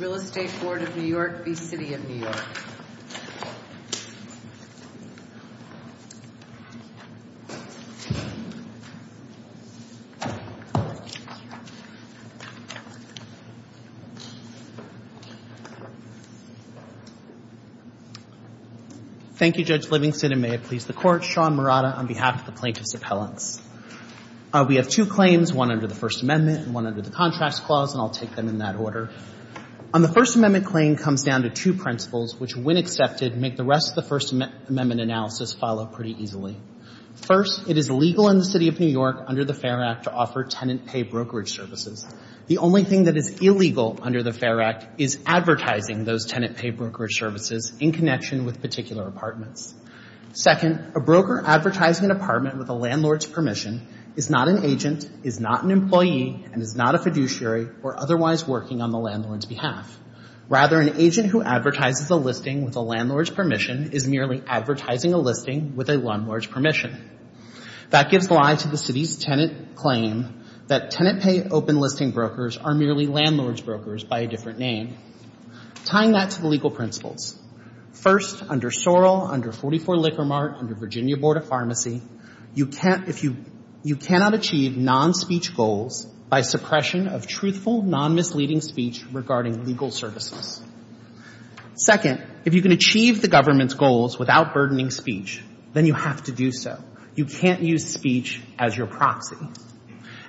Thank you, Judge Livingston, and may it please the Court. Sean Murata on behalf of the Plaintiffs' Appellants. We have two claims, one under the First Amendment and one under the Contracts Clause, and I'll take them in that order. On the First Amendment claim comes down to two principles which, when accepted, make the rest of the First Amendment analysis follow pretty easily. First, it is legal in the City of New York under the Fair Act to offer tenant pay brokerage services. The only thing that is illegal under the Fair Act is advertising those tenant pay brokerage services in connection with particular apartments. Second, a broker advertising an apartment with a landlord's permission is not an agent, is not an employee, and is not a fiduciary or otherwise working on the landlord's behalf. Rather, an agent who advertises a listing with a landlord's permission is merely advertising a listing with a landlord's permission. That gives lie to the City's tenant claim that tenant pay open listing brokers are merely landlord's brokers by a different name. Tying that to the legal principles, first, under Sorrell, under 44 Liquor Mart, under Virginia Board of Pharmacy, you can't, if you, you cannot achieve non-speech goals by suppression of truthful, non-misleading speech regarding legal services. Second, if you can achieve the government's goals without burdening speech, then you have to do so. You can't use speech as your proxy.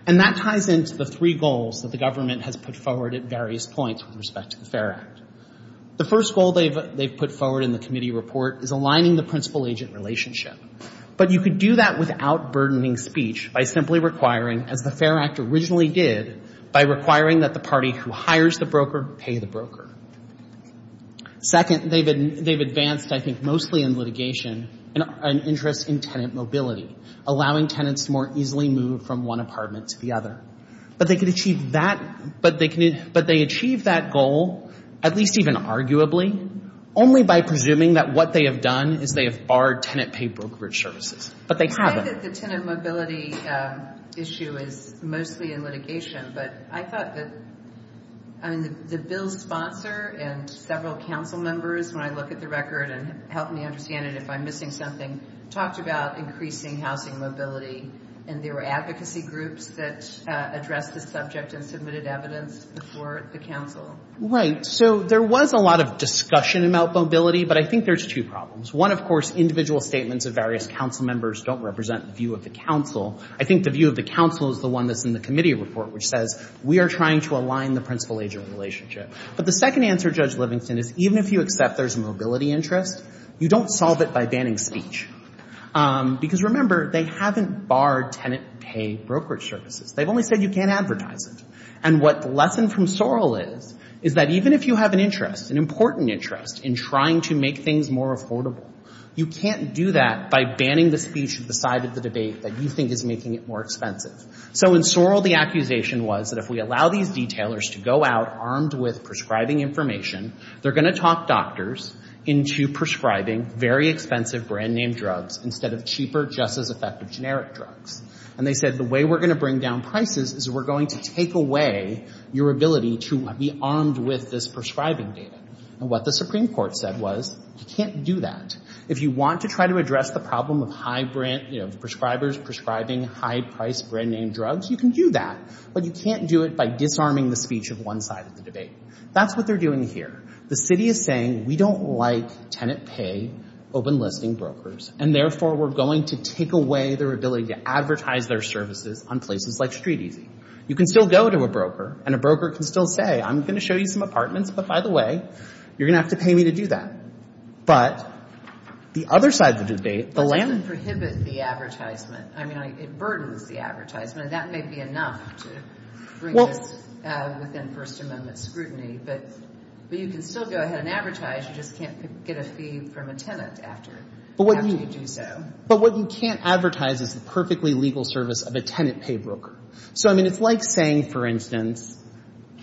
And that ties into the three goals that the government has put forward at various points with respect to the Fair Act. The first goal they've put forward in the committee report is aligning the principal-agent relationship. But you could do that without burdening speech by simply requiring, as the Fair Act originally did, by requiring that the party who hires the broker pay the broker. Second, they've advanced, I think, mostly in litigation an interest in tenant mobility, allowing tenants to more easily move from one apartment to the other. But they could achieve that, but they achieve that goal, at least even arguably, only by presuming that what they have done is they have barred tenant-paid brokerage services. But they haven't. I say that the tenant mobility issue is mostly in litigation, but I thought that, I mean, the bill's sponsor and several council members, when I look at the record and help me understand it if I'm missing something, talked about increasing housing mobility, and there were advocacy groups that addressed the subject and submitted evidence before the council. Right. So there was a lot of discussion about mobility, but I think there's two problems. One, of course, individual statements of various council members don't represent the view of the council. I think the view of the council is the one that's in the committee report, which says we are trying to align the principal-agent relationship. But the second answer, Judge Livingston, is even if you accept there's a mobility interest, you don't solve it by banning speech. Because remember, they haven't barred tenant-paid brokerage services. They've only said you can't advertise it. And what the lesson from Sorrell is, is that even if you have an interest, an important interest in trying to make things more affordable, you can't do that by banning the speech of the side of the debate that you think is making it more expensive. So in Sorrell, the accusation was that if we allow these detailers to go out armed with prescribing information, they're going to talk doctors into prescribing very expensive brand-name drugs instead of cheaper, just-as-effective generic drugs. And they said the way we're going to bring down prices is we're going to take away your ability to be armed with this prescribing data. And what the Supreme Court said was you can't do that. If you want to try to address the problem of prescribers prescribing high-priced brand-name drugs, you can do that. But you can't do it by disarming the speech of one side of the debate. That's what they're doing here. The city is saying we don't like tenant-paid open-listing brokers. And therefore, we're going to take away their ability to advertise their services on places like StreetEasy. You can still go to a broker, and a broker can still say, I'm going to show you some apartments, but by the way, you're going to have to pay me to do that. But the other side of the debate, the land— But that doesn't prohibit the advertisement. I mean, it burdens the advertisement. And that may be enough to bring this within First Amendment scrutiny. But you can still go ahead and advertise. You just can't get a fee from a tenant after you do so. But what you can't advertise is the perfectly legal service of a tenant-paid broker. So, I mean, it's like saying, for instance,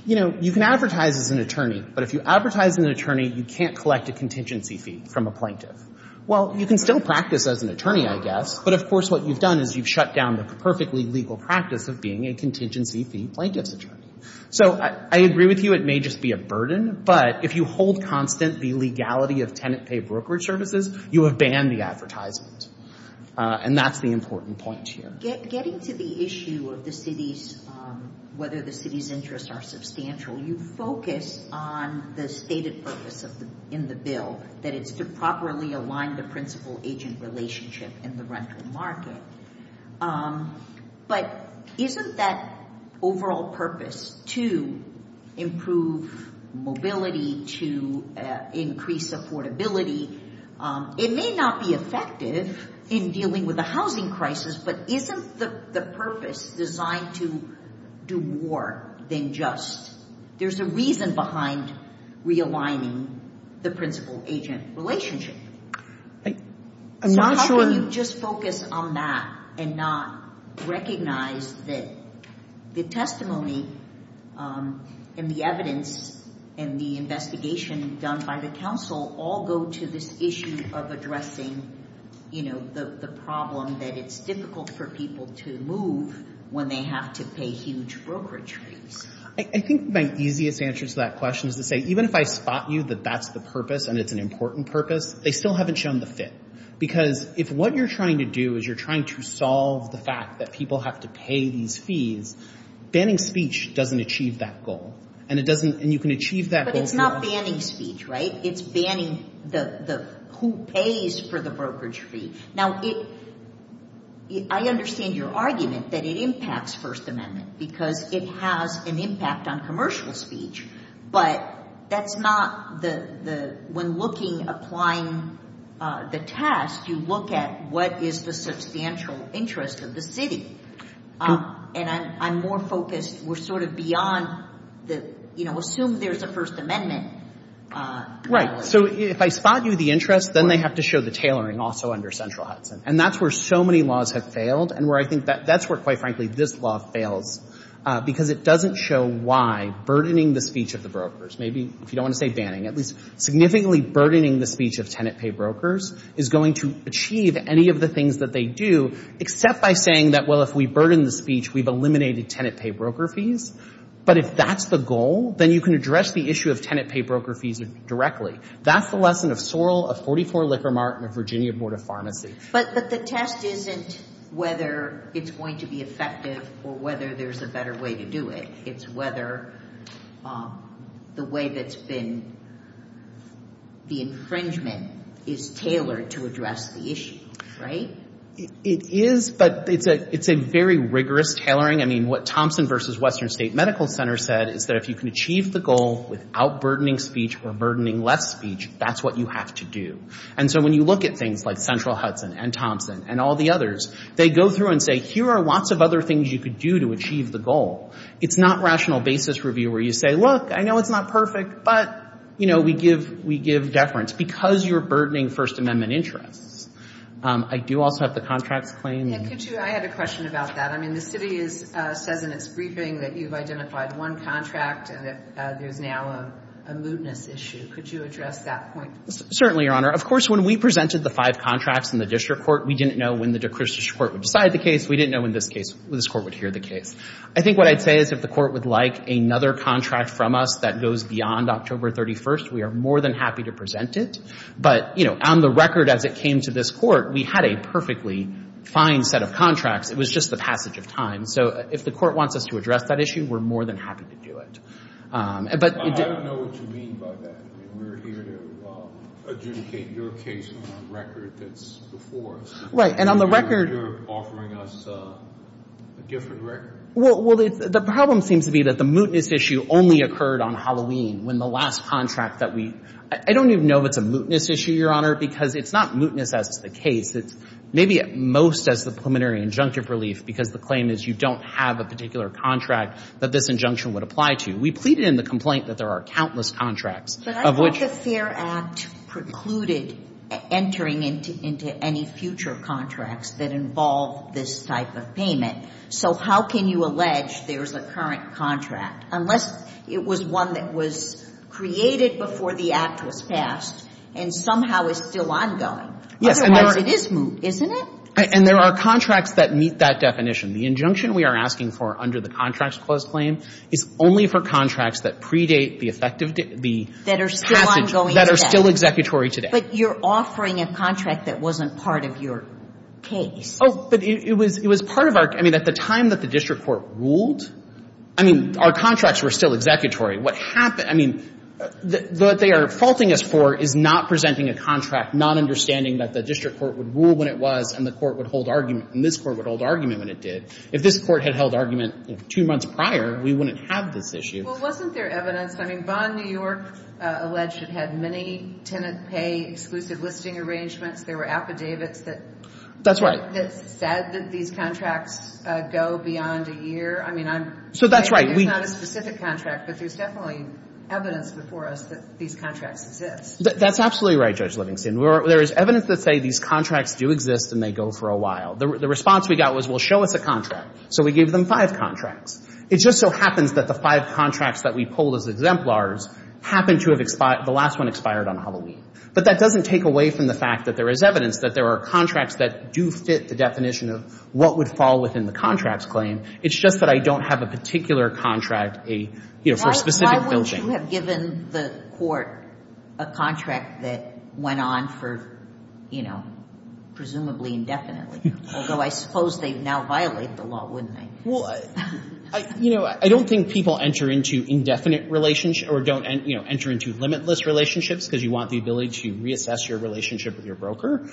you know, you can advertise as an attorney, but if you advertise as an attorney, you can't collect a contingency fee from a plaintiff. Well, you can still practice as an attorney, I guess, but of course what you've done is you've shut down the perfectly legal practice of being a contingency fee plaintiff's attorney. So I agree with you. It may just be a burden. But if you hold constant the legality of tenant-paid brokerage services, you have banned the advertisement. And that's the important point here. Getting to the issue of the city's—whether the city's interests are substantial, you focus on the stated purpose in the bill, that it's to properly align the principal-agent relationship in the rental market. But isn't that overall purpose to improve mobility, to increase affordability? It may not be effective in dealing with the housing crisis, but isn't the purpose designed to do more than just—there's a reason behind realigning the principal-agent relationship. So how can you just focus on that and not recognize that the testimony and the evidence and the investigation done by the counsel all go to this issue of addressing the problem that it's difficult for people to move when they have to pay huge brokerage fees? I think my easiest answer to that question is to say, even if I spot you that that's the purpose and it's an important purpose, they still haven't shown the fit. Because if what you're trying to do is you're trying to solve the fact that people have to pay these fees, banning speech doesn't achieve that goal. And it doesn't—and you can achieve that— But it's not banning speech, right? It's banning who pays for the brokerage fee. Now, I understand your argument that it impacts First Amendment, because it has an impact on commercial speech. But that's not the—when looking, applying the task, you look at what is the substantial interest of the city. And I'm more focused, we're sort of beyond the, you know, assume there's a First Amendment. Right. So if I spot you the interest, then they have to show the tailoring also under Central Hudson. And that's where so many laws have failed and where I think that's where, quite frankly, this law fails, because it doesn't show why burdening the speech of the brokers—maybe, if you don't want to say banning, at least significantly burdening the speech of tenant pay brokers—is going to achieve any of the do, except by saying that, well, if we burden the speech, we've eliminated tenant pay broker fees. But if that's the goal, then you can address the issue of tenant pay broker fees directly. That's the lesson of Sorrell, of 44 Liquor Mart, and of Virginia Board of Pharmacy. But the test isn't whether it's going to be effective or whether there's a better way to do it. It's whether the way that's been—the infringement is tailored to address the issue, right? It is, but it's a—it's a very rigorous tailoring. I mean, what Thompson versus Western State Medical Center said is that if you can achieve the goal without burdening speech or burdening less speech, that's what you have to do. And so when you look at things like Central Hudson and Thompson and all the others, they go through and say, here are lots of other things you could do to achieve the goal. It's not rational basis review where you say, look, I know it's not perfect, but, you know, we give—we give deference, because you're burdening the first amendment interests. I do also have the contracts claim. Yeah. Could you—I had a question about that. I mean, the city is—says in its briefing that you've identified one contract and that there's now a moodness issue. Could you address that point? Certainly, Your Honor. Of course, when we presented the five contracts in the district court, we didn't know when the district court would decide the case. We didn't know when this case—when this court would hear the case. I think what I'd say is if the court would like another contract from us that goes beyond October 31st, we are more than happy to present it. But, you know, on the record as it came to this court, we had a perfectly fine set of contracts. It was just the passage of time. So if the court wants us to address that issue, we're more than happy to do it. But— I don't know what you mean by that. I mean, we're here to adjudicate your case on a record that's before us. Right. And on the record— You're offering us a different record. Well, the problem seems to be that the moodness issue only occurred on Halloween when the last contract that we—I don't even know if it's a moodness issue, Your Honor, because it's not moodness as the case. It's maybe at most as the preliminary injunctive relief because the claim is you don't have a particular contract that this injunction would apply to. We pleaded in the complaint that there are countless contracts— But I thought the Fair Act precluded entering into any future contracts that involve this type of payment. So how can you allege there's a current contract, unless it was one that was created before the Act was passed and somehow is still ongoing? Yes. Otherwise, it is moot, isn't it? And there are contracts that meet that definition. The injunction we are asking for under the Contracts Clause claim is only for contracts that predate the effective — the passage— That are still ongoing today. That are still executory today. But you're offering a contract that wasn't part of your case. Oh, but it was part of our — I mean, at the time that the district court ruled, I mean, our contracts were still executory. What happened — I mean, what they are faulting us for is not presenting a contract, not understanding that the district court would rule when it was and the court would hold argument and this court would hold argument when it did. If this court had held argument two months prior, we wouldn't have this issue. Well, wasn't there evidence? I mean, Vaughan, New York, alleged it had many tenant pay exclusive listing arrangements. There were affidavits that— That's right. —said that these contracts go beyond a year. I mean, I'm— So that's right. There's not a specific contract, but there's definitely evidence before us that these contracts exist. That's absolutely right, Judge Livingston. There is evidence that say these contracts do exist and they go for a while. The response we got was, well, show us a contract. So we gave them five contracts. It just so happens that the five contracts that we pulled as exemplars happened to have expired — the last one expired on Halloween. But that doesn't take away from the fact that there is evidence that there are contracts that do fit the definition of what would fall within the contract's claim. It's just that I don't have a particular contract, a — you know, for specific billing. Why wouldn't you have given the court a contract that went on for, you know, presumably indefinitely? Although I suppose they'd now violate the law, wouldn't they? Well, I — you know, I don't think people enter into indefinite relationships or don't, you know, enter into limitless relationships because you want the ability to reassess your relationship with your broker.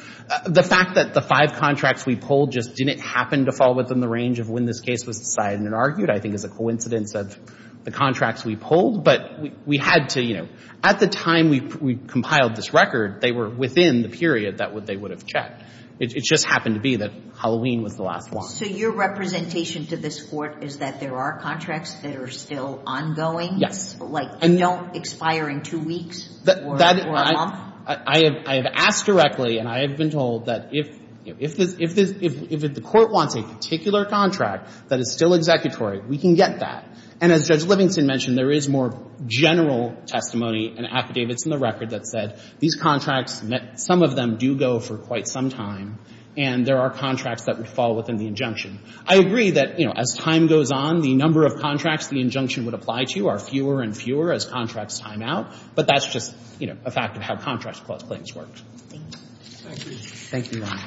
The fact that the five contracts we pulled just didn't happen to fall within the range of when this case was decided and argued, I think, is a coincidence of the contracts we pulled. But we had to — you know, at the time we compiled this record, they were within the period that they would have checked. It just happened to be that Halloween was the last one. So your representation to this Court is that there are contracts that are still ongoing? Yes. Like, they don't expire in two weeks or a month? I have asked directly, and I have been told that if — you know, if this — if the Court wants a particular contract that is still executory, we can get that. And as Judge Livingston mentioned, there is more general testimony and affidavits in the record that said these contracts, some of them do go for quite some time, and there are contracts that would fall within the injunction. I agree that, you know, as time goes on, the number of contracts the injunction would apply to are fewer and fewer as contracts time out. But that's just, you know, a fact of how contracts clause claims work. Thank you, Your Honor.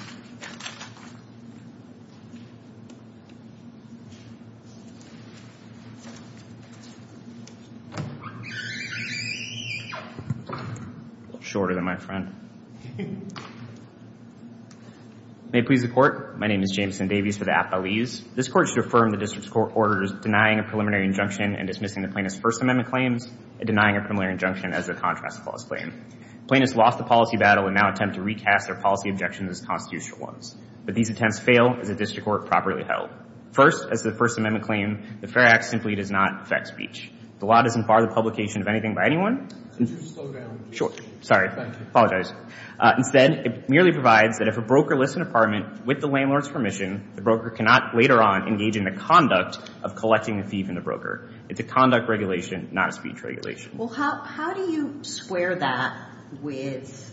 A little shorter than my friend. May it please the Court, my name is Jameson Davies for the Appellees. This Court is to affirm the District Court's orders denying a preliminary injunction and dismissing the plaintiff's First Amendment claims and denying a preliminary injunction as a contrast clause claim. Plaintiffs lost the policy battle and now attempt to recast their policy objections as constitutional ones. But these attempts fail as the District Court properly held. First, as to the First Amendment claim, the Fair Act simply does not affect speech. The law doesn't bar the publication of anything by anyone. Could you slow down? Sure. Sorry. Thank you. Apologize. Instead, it merely provides that if a broker lifts an apartment with the landlord's permission, the broker cannot later on engage in the conduct of collecting a thief in the broker. It's a conduct regulation, not a speech regulation. How do you square that with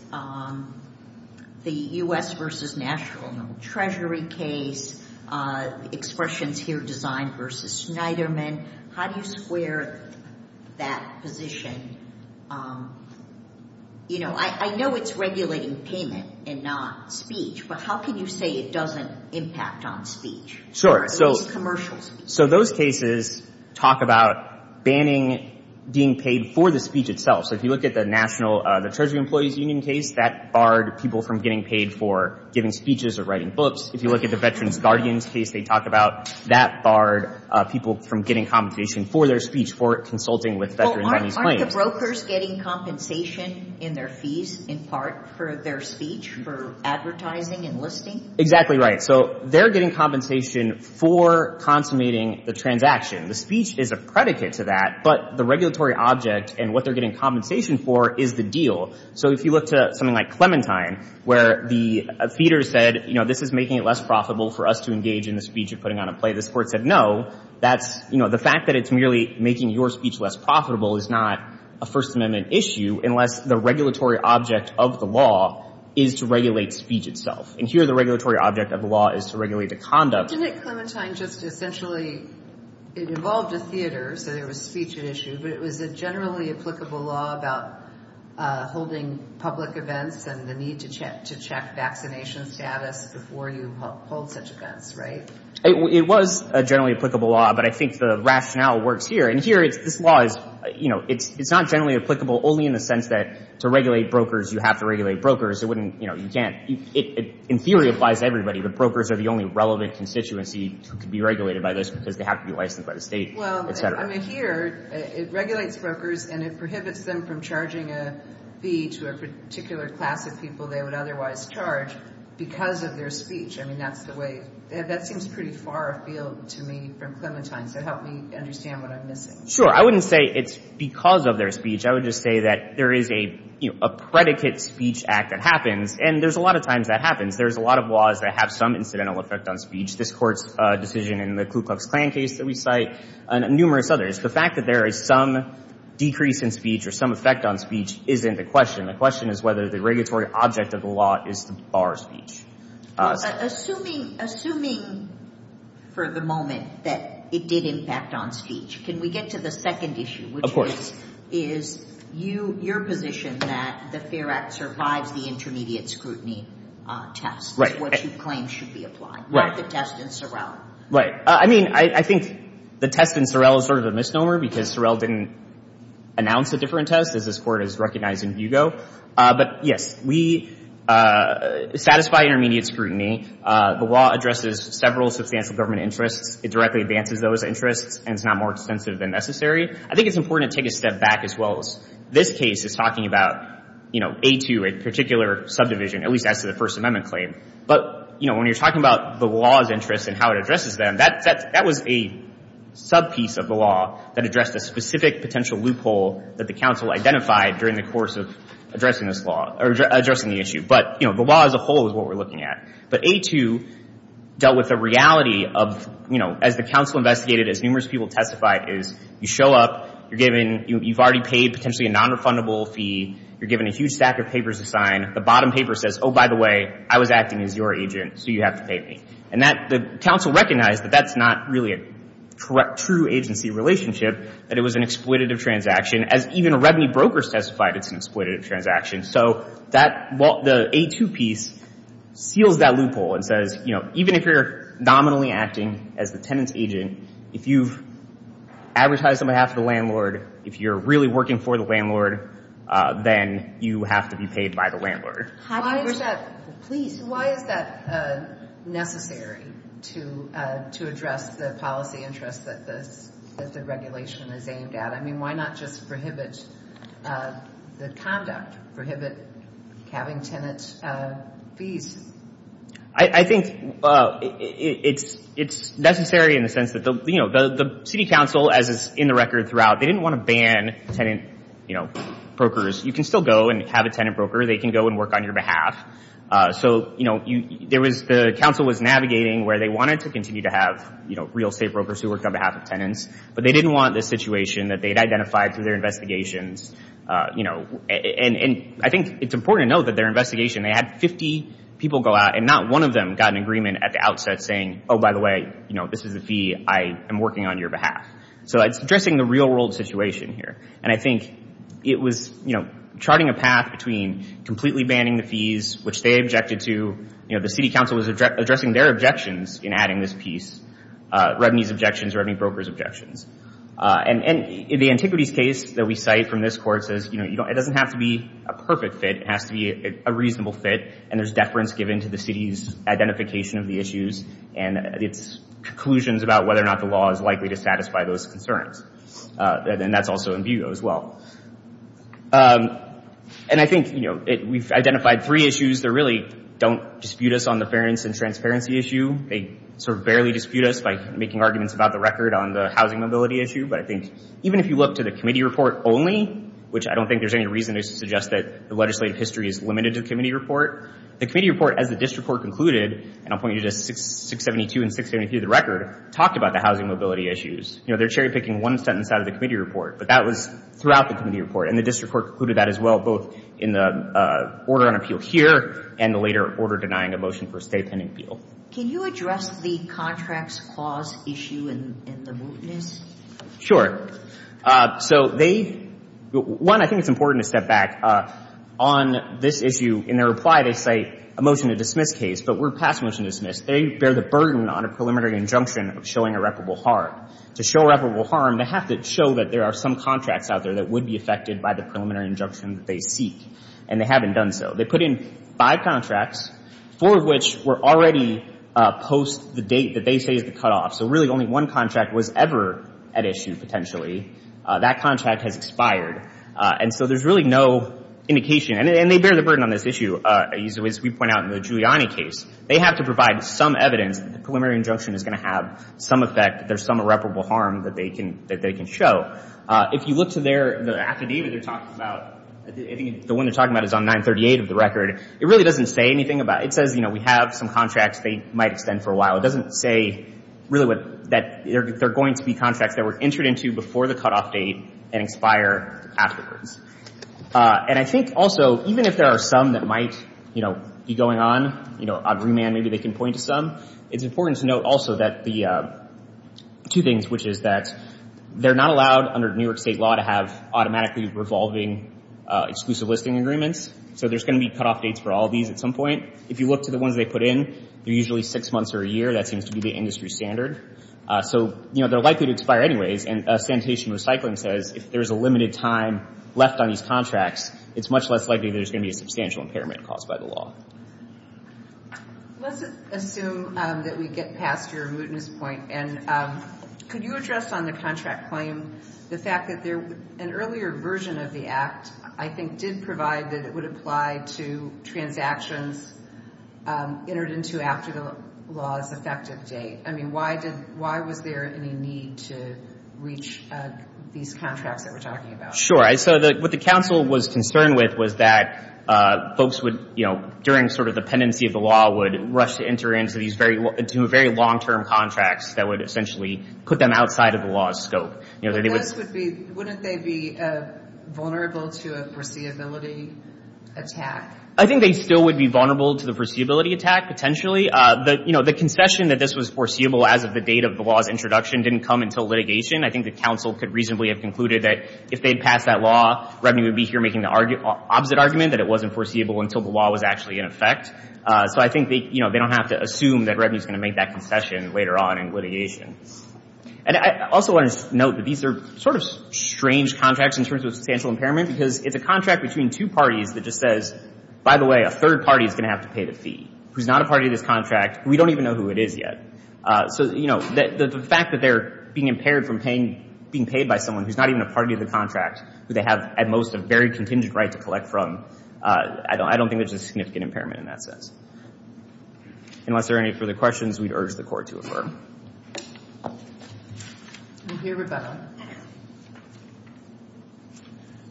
the U.S. v. National Treasury case, Expressions here, Design v. Schneiderman? How do you square that position? I know it's regulating payment and not speech, but how can you say it doesn't impact on speech? Sure. At least commercial speech. So those cases talk about banning being paid for the speech itself. So if you look at the Treasury Employees Union case, that barred people from getting paid for giving speeches or writing books. If you look at the Veterans Guardians case, they talk about that barred people from getting compensation for their speech, for consulting with veterans on these claims. Aren't the brokers getting compensation in their fees, in part, for their speech, for advertising and listing? Exactly right. So they're getting compensation for consummating the transaction. The speech is a predicate to that, but the regulatory object and what they're getting compensation for is the deal. So if you look to something like Clementine, where the feeder said, you know, this is making it less profitable for us to engage in the speech you're putting on a plate, the court said, no, that's, you know, the fact that it's merely making your speech less profitable is not a First Amendment issue unless the regulatory object of the law is to regulate speech itself. And here, the regulatory object of the law is to regulate the conduct. Didn't Clementine just essentially, it involved a theater, so there was a speech at issue, but it was a generally applicable law about holding public events and the need to check vaccination status before you hold such events, right? It was a generally applicable law, but I think the rationale works here. And here, this law is, you know, it's not generally applicable only in the sense that to regulate brokers, it wouldn't, you know, you can't, it in theory applies to everybody, but brokers are the only relevant constituency to be regulated by this because they have to be licensed by the state. Well, I mean, here it regulates brokers and it prohibits them from charging a fee to a particular class of people they would otherwise charge because of their speech. I mean, that's the way, that seems pretty far afield to me from Clementine. So help me understand what I'm missing. Sure. I wouldn't say it's because of their speech. I would just say that there is a, you know, a predicate speech act that happens. And there's a lot of times that happens. There's a lot of laws that have some incidental effect on speech. This court's decision in the Ku Klux Klan case that we cite and numerous others. The fact that there is some decrease in speech or some effect on speech isn't the question. The question is whether the regulatory object of the law is to bar speech. Assuming for the moment that it did impact on speech, can we get to the second issue, which is your position that the FAIR Act survives the intermediate scrutiny test, which you claim should be applied, not the test in Sorrell. Right. I mean, I think the test in Sorrell is sort of a misnomer because Sorrell didn't announce a different test, as this Court is recognizing Hugo. But yes, we satisfy intermediate scrutiny. The law addresses several substantial government interests. It directly advances those interests, and it's not more extensive than necessary. I think it's important to take a step back as well as this case is talking about, you know, A2, a particular subdivision, at least as to the First Amendment claim. But, you know, when you're talking about the law's interests and how it addresses them, that was a subpiece of the law that addressed a specific potential loophole that the counsel identified during the course of addressing this law or addressing the issue. But, you know, the law as a whole is what we're looking at. But A2 dealt with the reality of, you know, as the counsel investigated, as numerous people testified, is you show up, you're given, you've already paid potentially a nonrefundable fee, you're given a huge stack of papers to sign. The bottom paper says, oh, by the way, I was acting as your agent, so you have to pay me. And that, the counsel recognized that that's not really a true agency relationship, that it was an exploitative transaction, as even a revenue broker testified it's an exploitative transaction. So that, well, the A2 piece seals that loophole and says, you know, even if you're nominally acting as the tenant's agent, if you've advertised on behalf of the landlord, if you're really working for the landlord, then you have to be paid by the landlord. Why is that, please, why is that necessary to address the policy interests that the regulation is aimed at? I mean, why not just prohibit the conduct, prohibit having tenant fees? I think it's necessary in the sense that the city council, as is in the record throughout, they didn't want to ban tenant brokers. You can still go and have a tenant broker, they can go and work on your behalf. So the council was navigating where they wanted to continue to have real estate brokers who worked on behalf of tenants, but they didn't want this situation that they'd identified through their investigations. And I think it's important to add 50 people go out and not one of them got an agreement at the outset saying, oh, by the way, you know, this is a fee, I am working on your behalf. So it's addressing the real world situation here. And I think it was, you know, charting a path between completely banning the fees, which they objected to, you know, the city council was addressing their objections in adding this piece, revenue's objections, revenue broker's objections. And the antiquities case that we have to be a perfect fit, it has to be a reasonable fit. And there's deference given to the city's identification of the issues and its conclusions about whether or not the law is likely to satisfy those concerns. And that's also in view as well. And I think, you know, we've identified three issues that really don't dispute us on the fairness and transparency issue. They sort of barely dispute us by making arguments about the record on the housing mobility issue. But I think if you look to the committee report only, which I don't think there's any reason to suggest that the legislative history is limited to the committee report, the committee report, as the district court concluded, and I'll point you to 672 and 673 of the record, talked about the housing mobility issues. You know, they're cherry picking one sentence out of the committee report. But that was throughout the committee report. And the district court concluded that as well, both in the order on appeal here and the later order denying a motion for a state pending appeal. Can you address the contracts clause issue and the mootness? Sure. So they — one, I think it's important to step back. On this issue, in their reply, they cite a motion to dismiss case. But we're past motion to dismiss. They bear the burden on a preliminary injunction of showing irreparable harm. To show irreparable harm, they have to show that there are some contracts out there that would be affected by the preliminary injunction that they seek. And they haven't done so. They put in five contracts, four of which were already post the date that they say is the cutoff. So really only one contract was ever at issue, potentially. That contract has expired. And so there's really no indication. And they bear the burden on this issue, as we point out in the Giuliani case. They have to provide some evidence that the preliminary injunction is going to have some effect, that there's some irreparable harm that they can — that they can show. If you look to their — the affidavit they're talking about — I think the one they're saying anything about — it says, you know, we have some contracts. They might extend for a while. It doesn't say, really, what — that there are going to be contracts that were entered into before the cutoff date and expire afterwards. And I think also, even if there are some that might, you know, be going on, you know, on remand, maybe they can point to some, it's important to note also that the — two things, which is that they're not allowed, under New York State law, to have automatically revolving exclusive listing agreements. So there's going to be cutoff dates for all of these at some point. If you look to the ones they put in, they're usually six months or a year. That seems to be the industry standard. So, you know, they're likely to expire anyways. And Sanitation and Recycling says if there's a limited time left on these contracts, it's much less likely there's going to be a substantial impairment caused by the law. Let's assume that we get past your mootness point. And could you address on the contract claim the fact that there — an earlier version of the Act, I think, did provide that it would apply to transactions entered into after the law's effective date? I mean, why did — why was there any need to reach these contracts that we're talking about? Sure. So what the counsel was concerned with was that folks would, you know, during sort of the pendency of the law, would rush to enter into these very — into very long-term contracts that would essentially put them outside of the law's scope. You know, they would — But this would be — wouldn't they be vulnerable to a foreseeability attack? I think they still would be vulnerable to the foreseeability attack, potentially. The — you know, the concession that this was foreseeable as of the date of the law's introduction didn't come until litigation. I think the counsel could reasonably have concluded that if they'd passed that law, Revenue would be here making the opposite argument, that it wasn't foreseeable until the law was actually in effect. So I think they — you know, they don't have to assume that Revenue's going to make that concession later on in litigation. And I also want to note that these are sort of strange contracts in terms of substantial impairment, because it's a contract between two parties that just says, by the way, a third party is going to have to pay the fee, who's not a party to this contract. We don't even know who it is yet. So, you know, the fact that they're being impaired from paying — being paid by someone who's not even a party to the contract, who they have, at most, a very contingent right to collect from, I don't think there's a significant impairment in that sense. Unless there are any further questions, we'd urge the Court to affirm. We'll hear Rebecca.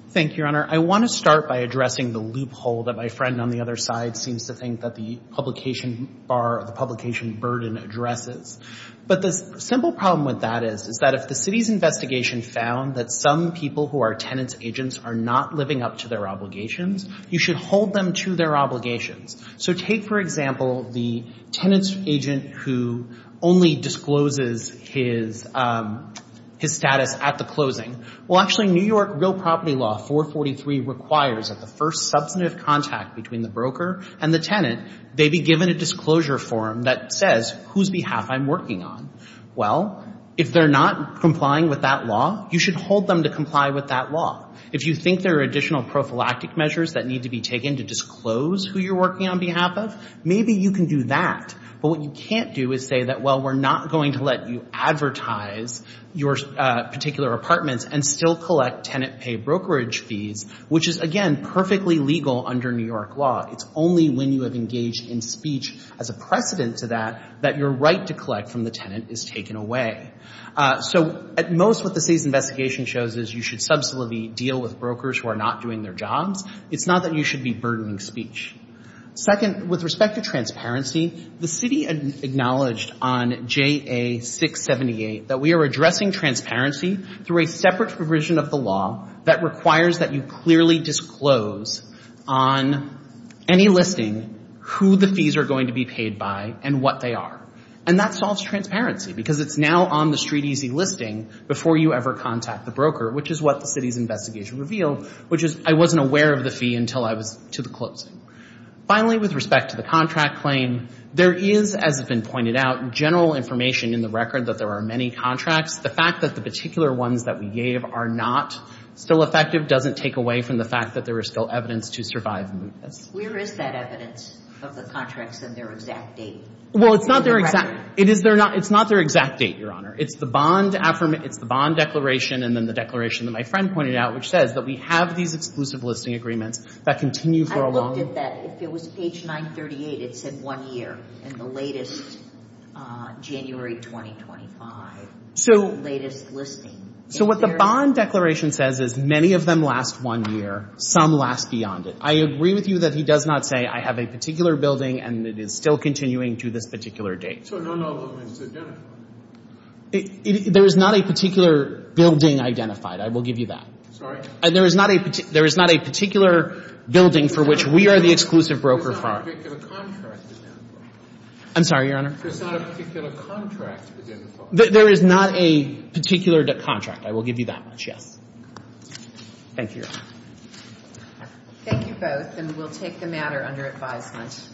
Thank you, Your Honor. I want to start by addressing the loophole that my friend on the other side seems to think that the publication bar — the publication burden addresses. But the simple problem with that is, is that if the city's investigation found that some people who are tenants' agents are not living up to their obligations, you should hold them to their obligations. So take, for example, the tenant's agent who only discloses his status at the closing. Well, actually, New York real property law 443 requires that the first substantive contact between the broker and the tenant, they be given a disclosure form that says whose behalf I'm working on. Well, if they're not complying with that law, you should hold them to comply with that law. If you think there are additional prophylactic measures that need to be taken to disclose who you're working on behalf of, maybe you can do that. But what you can't do is say that, well, we're not going to let you advertise your particular apartments and still collect tenant pay brokerage fees, which is, again, perfectly legal under New York law. It's only when you have engaged in speech as a precedent to that, that your right to collect from the tenant is taken away. So at most, what the city's investigation shows is you should deal with brokers who are not doing their jobs. It's not that you should be burdening speech. Second, with respect to transparency, the city acknowledged on JA678 that we are addressing transparency through a separate provision of the law that requires that you clearly disclose on any listing who the fees are going to be paid by and what they are. And that solves transparency because it's now on the street easy listing before you ever contact the broker, which is what the city's investigation revealed, which is I wasn't aware of the fee until I was to the closing. Finally, with respect to the contract claim, there is, as has been pointed out, general information in the record that there are many contracts. The fact that the particular ones that we gave are not still effective doesn't take away from the fact that there is still evidence to survive the mootness. Where is that evidence of the contracts and their exact date? Well, it's not their exact, it is their not, it's not their exact date, Your Honor. It's the bond affirm, it's the bond declaration and then the declaration that my friend pointed out, which says that we have these exclusive listing agreements that continue for a long. I looked at that. If it was page 938, it said one year. In the latest, January 2025, latest listing. So what the bond declaration says is many of them last one year. Some last beyond it. I agree with you that he does not say I have a particular building and it is still continuing to this particular date. So none of them is identified? There is not a particular building identified. I will give you that. Sorry? There is not a particular building for which we are the exclusive broker firm. There's not a particular contract identified. I'm sorry, Your Honor? There's not a particular contract identified. There is not a particular contract. I will give you that much, yes. Thank you, Your Honor. Thank you both and we'll take the matter under advisement.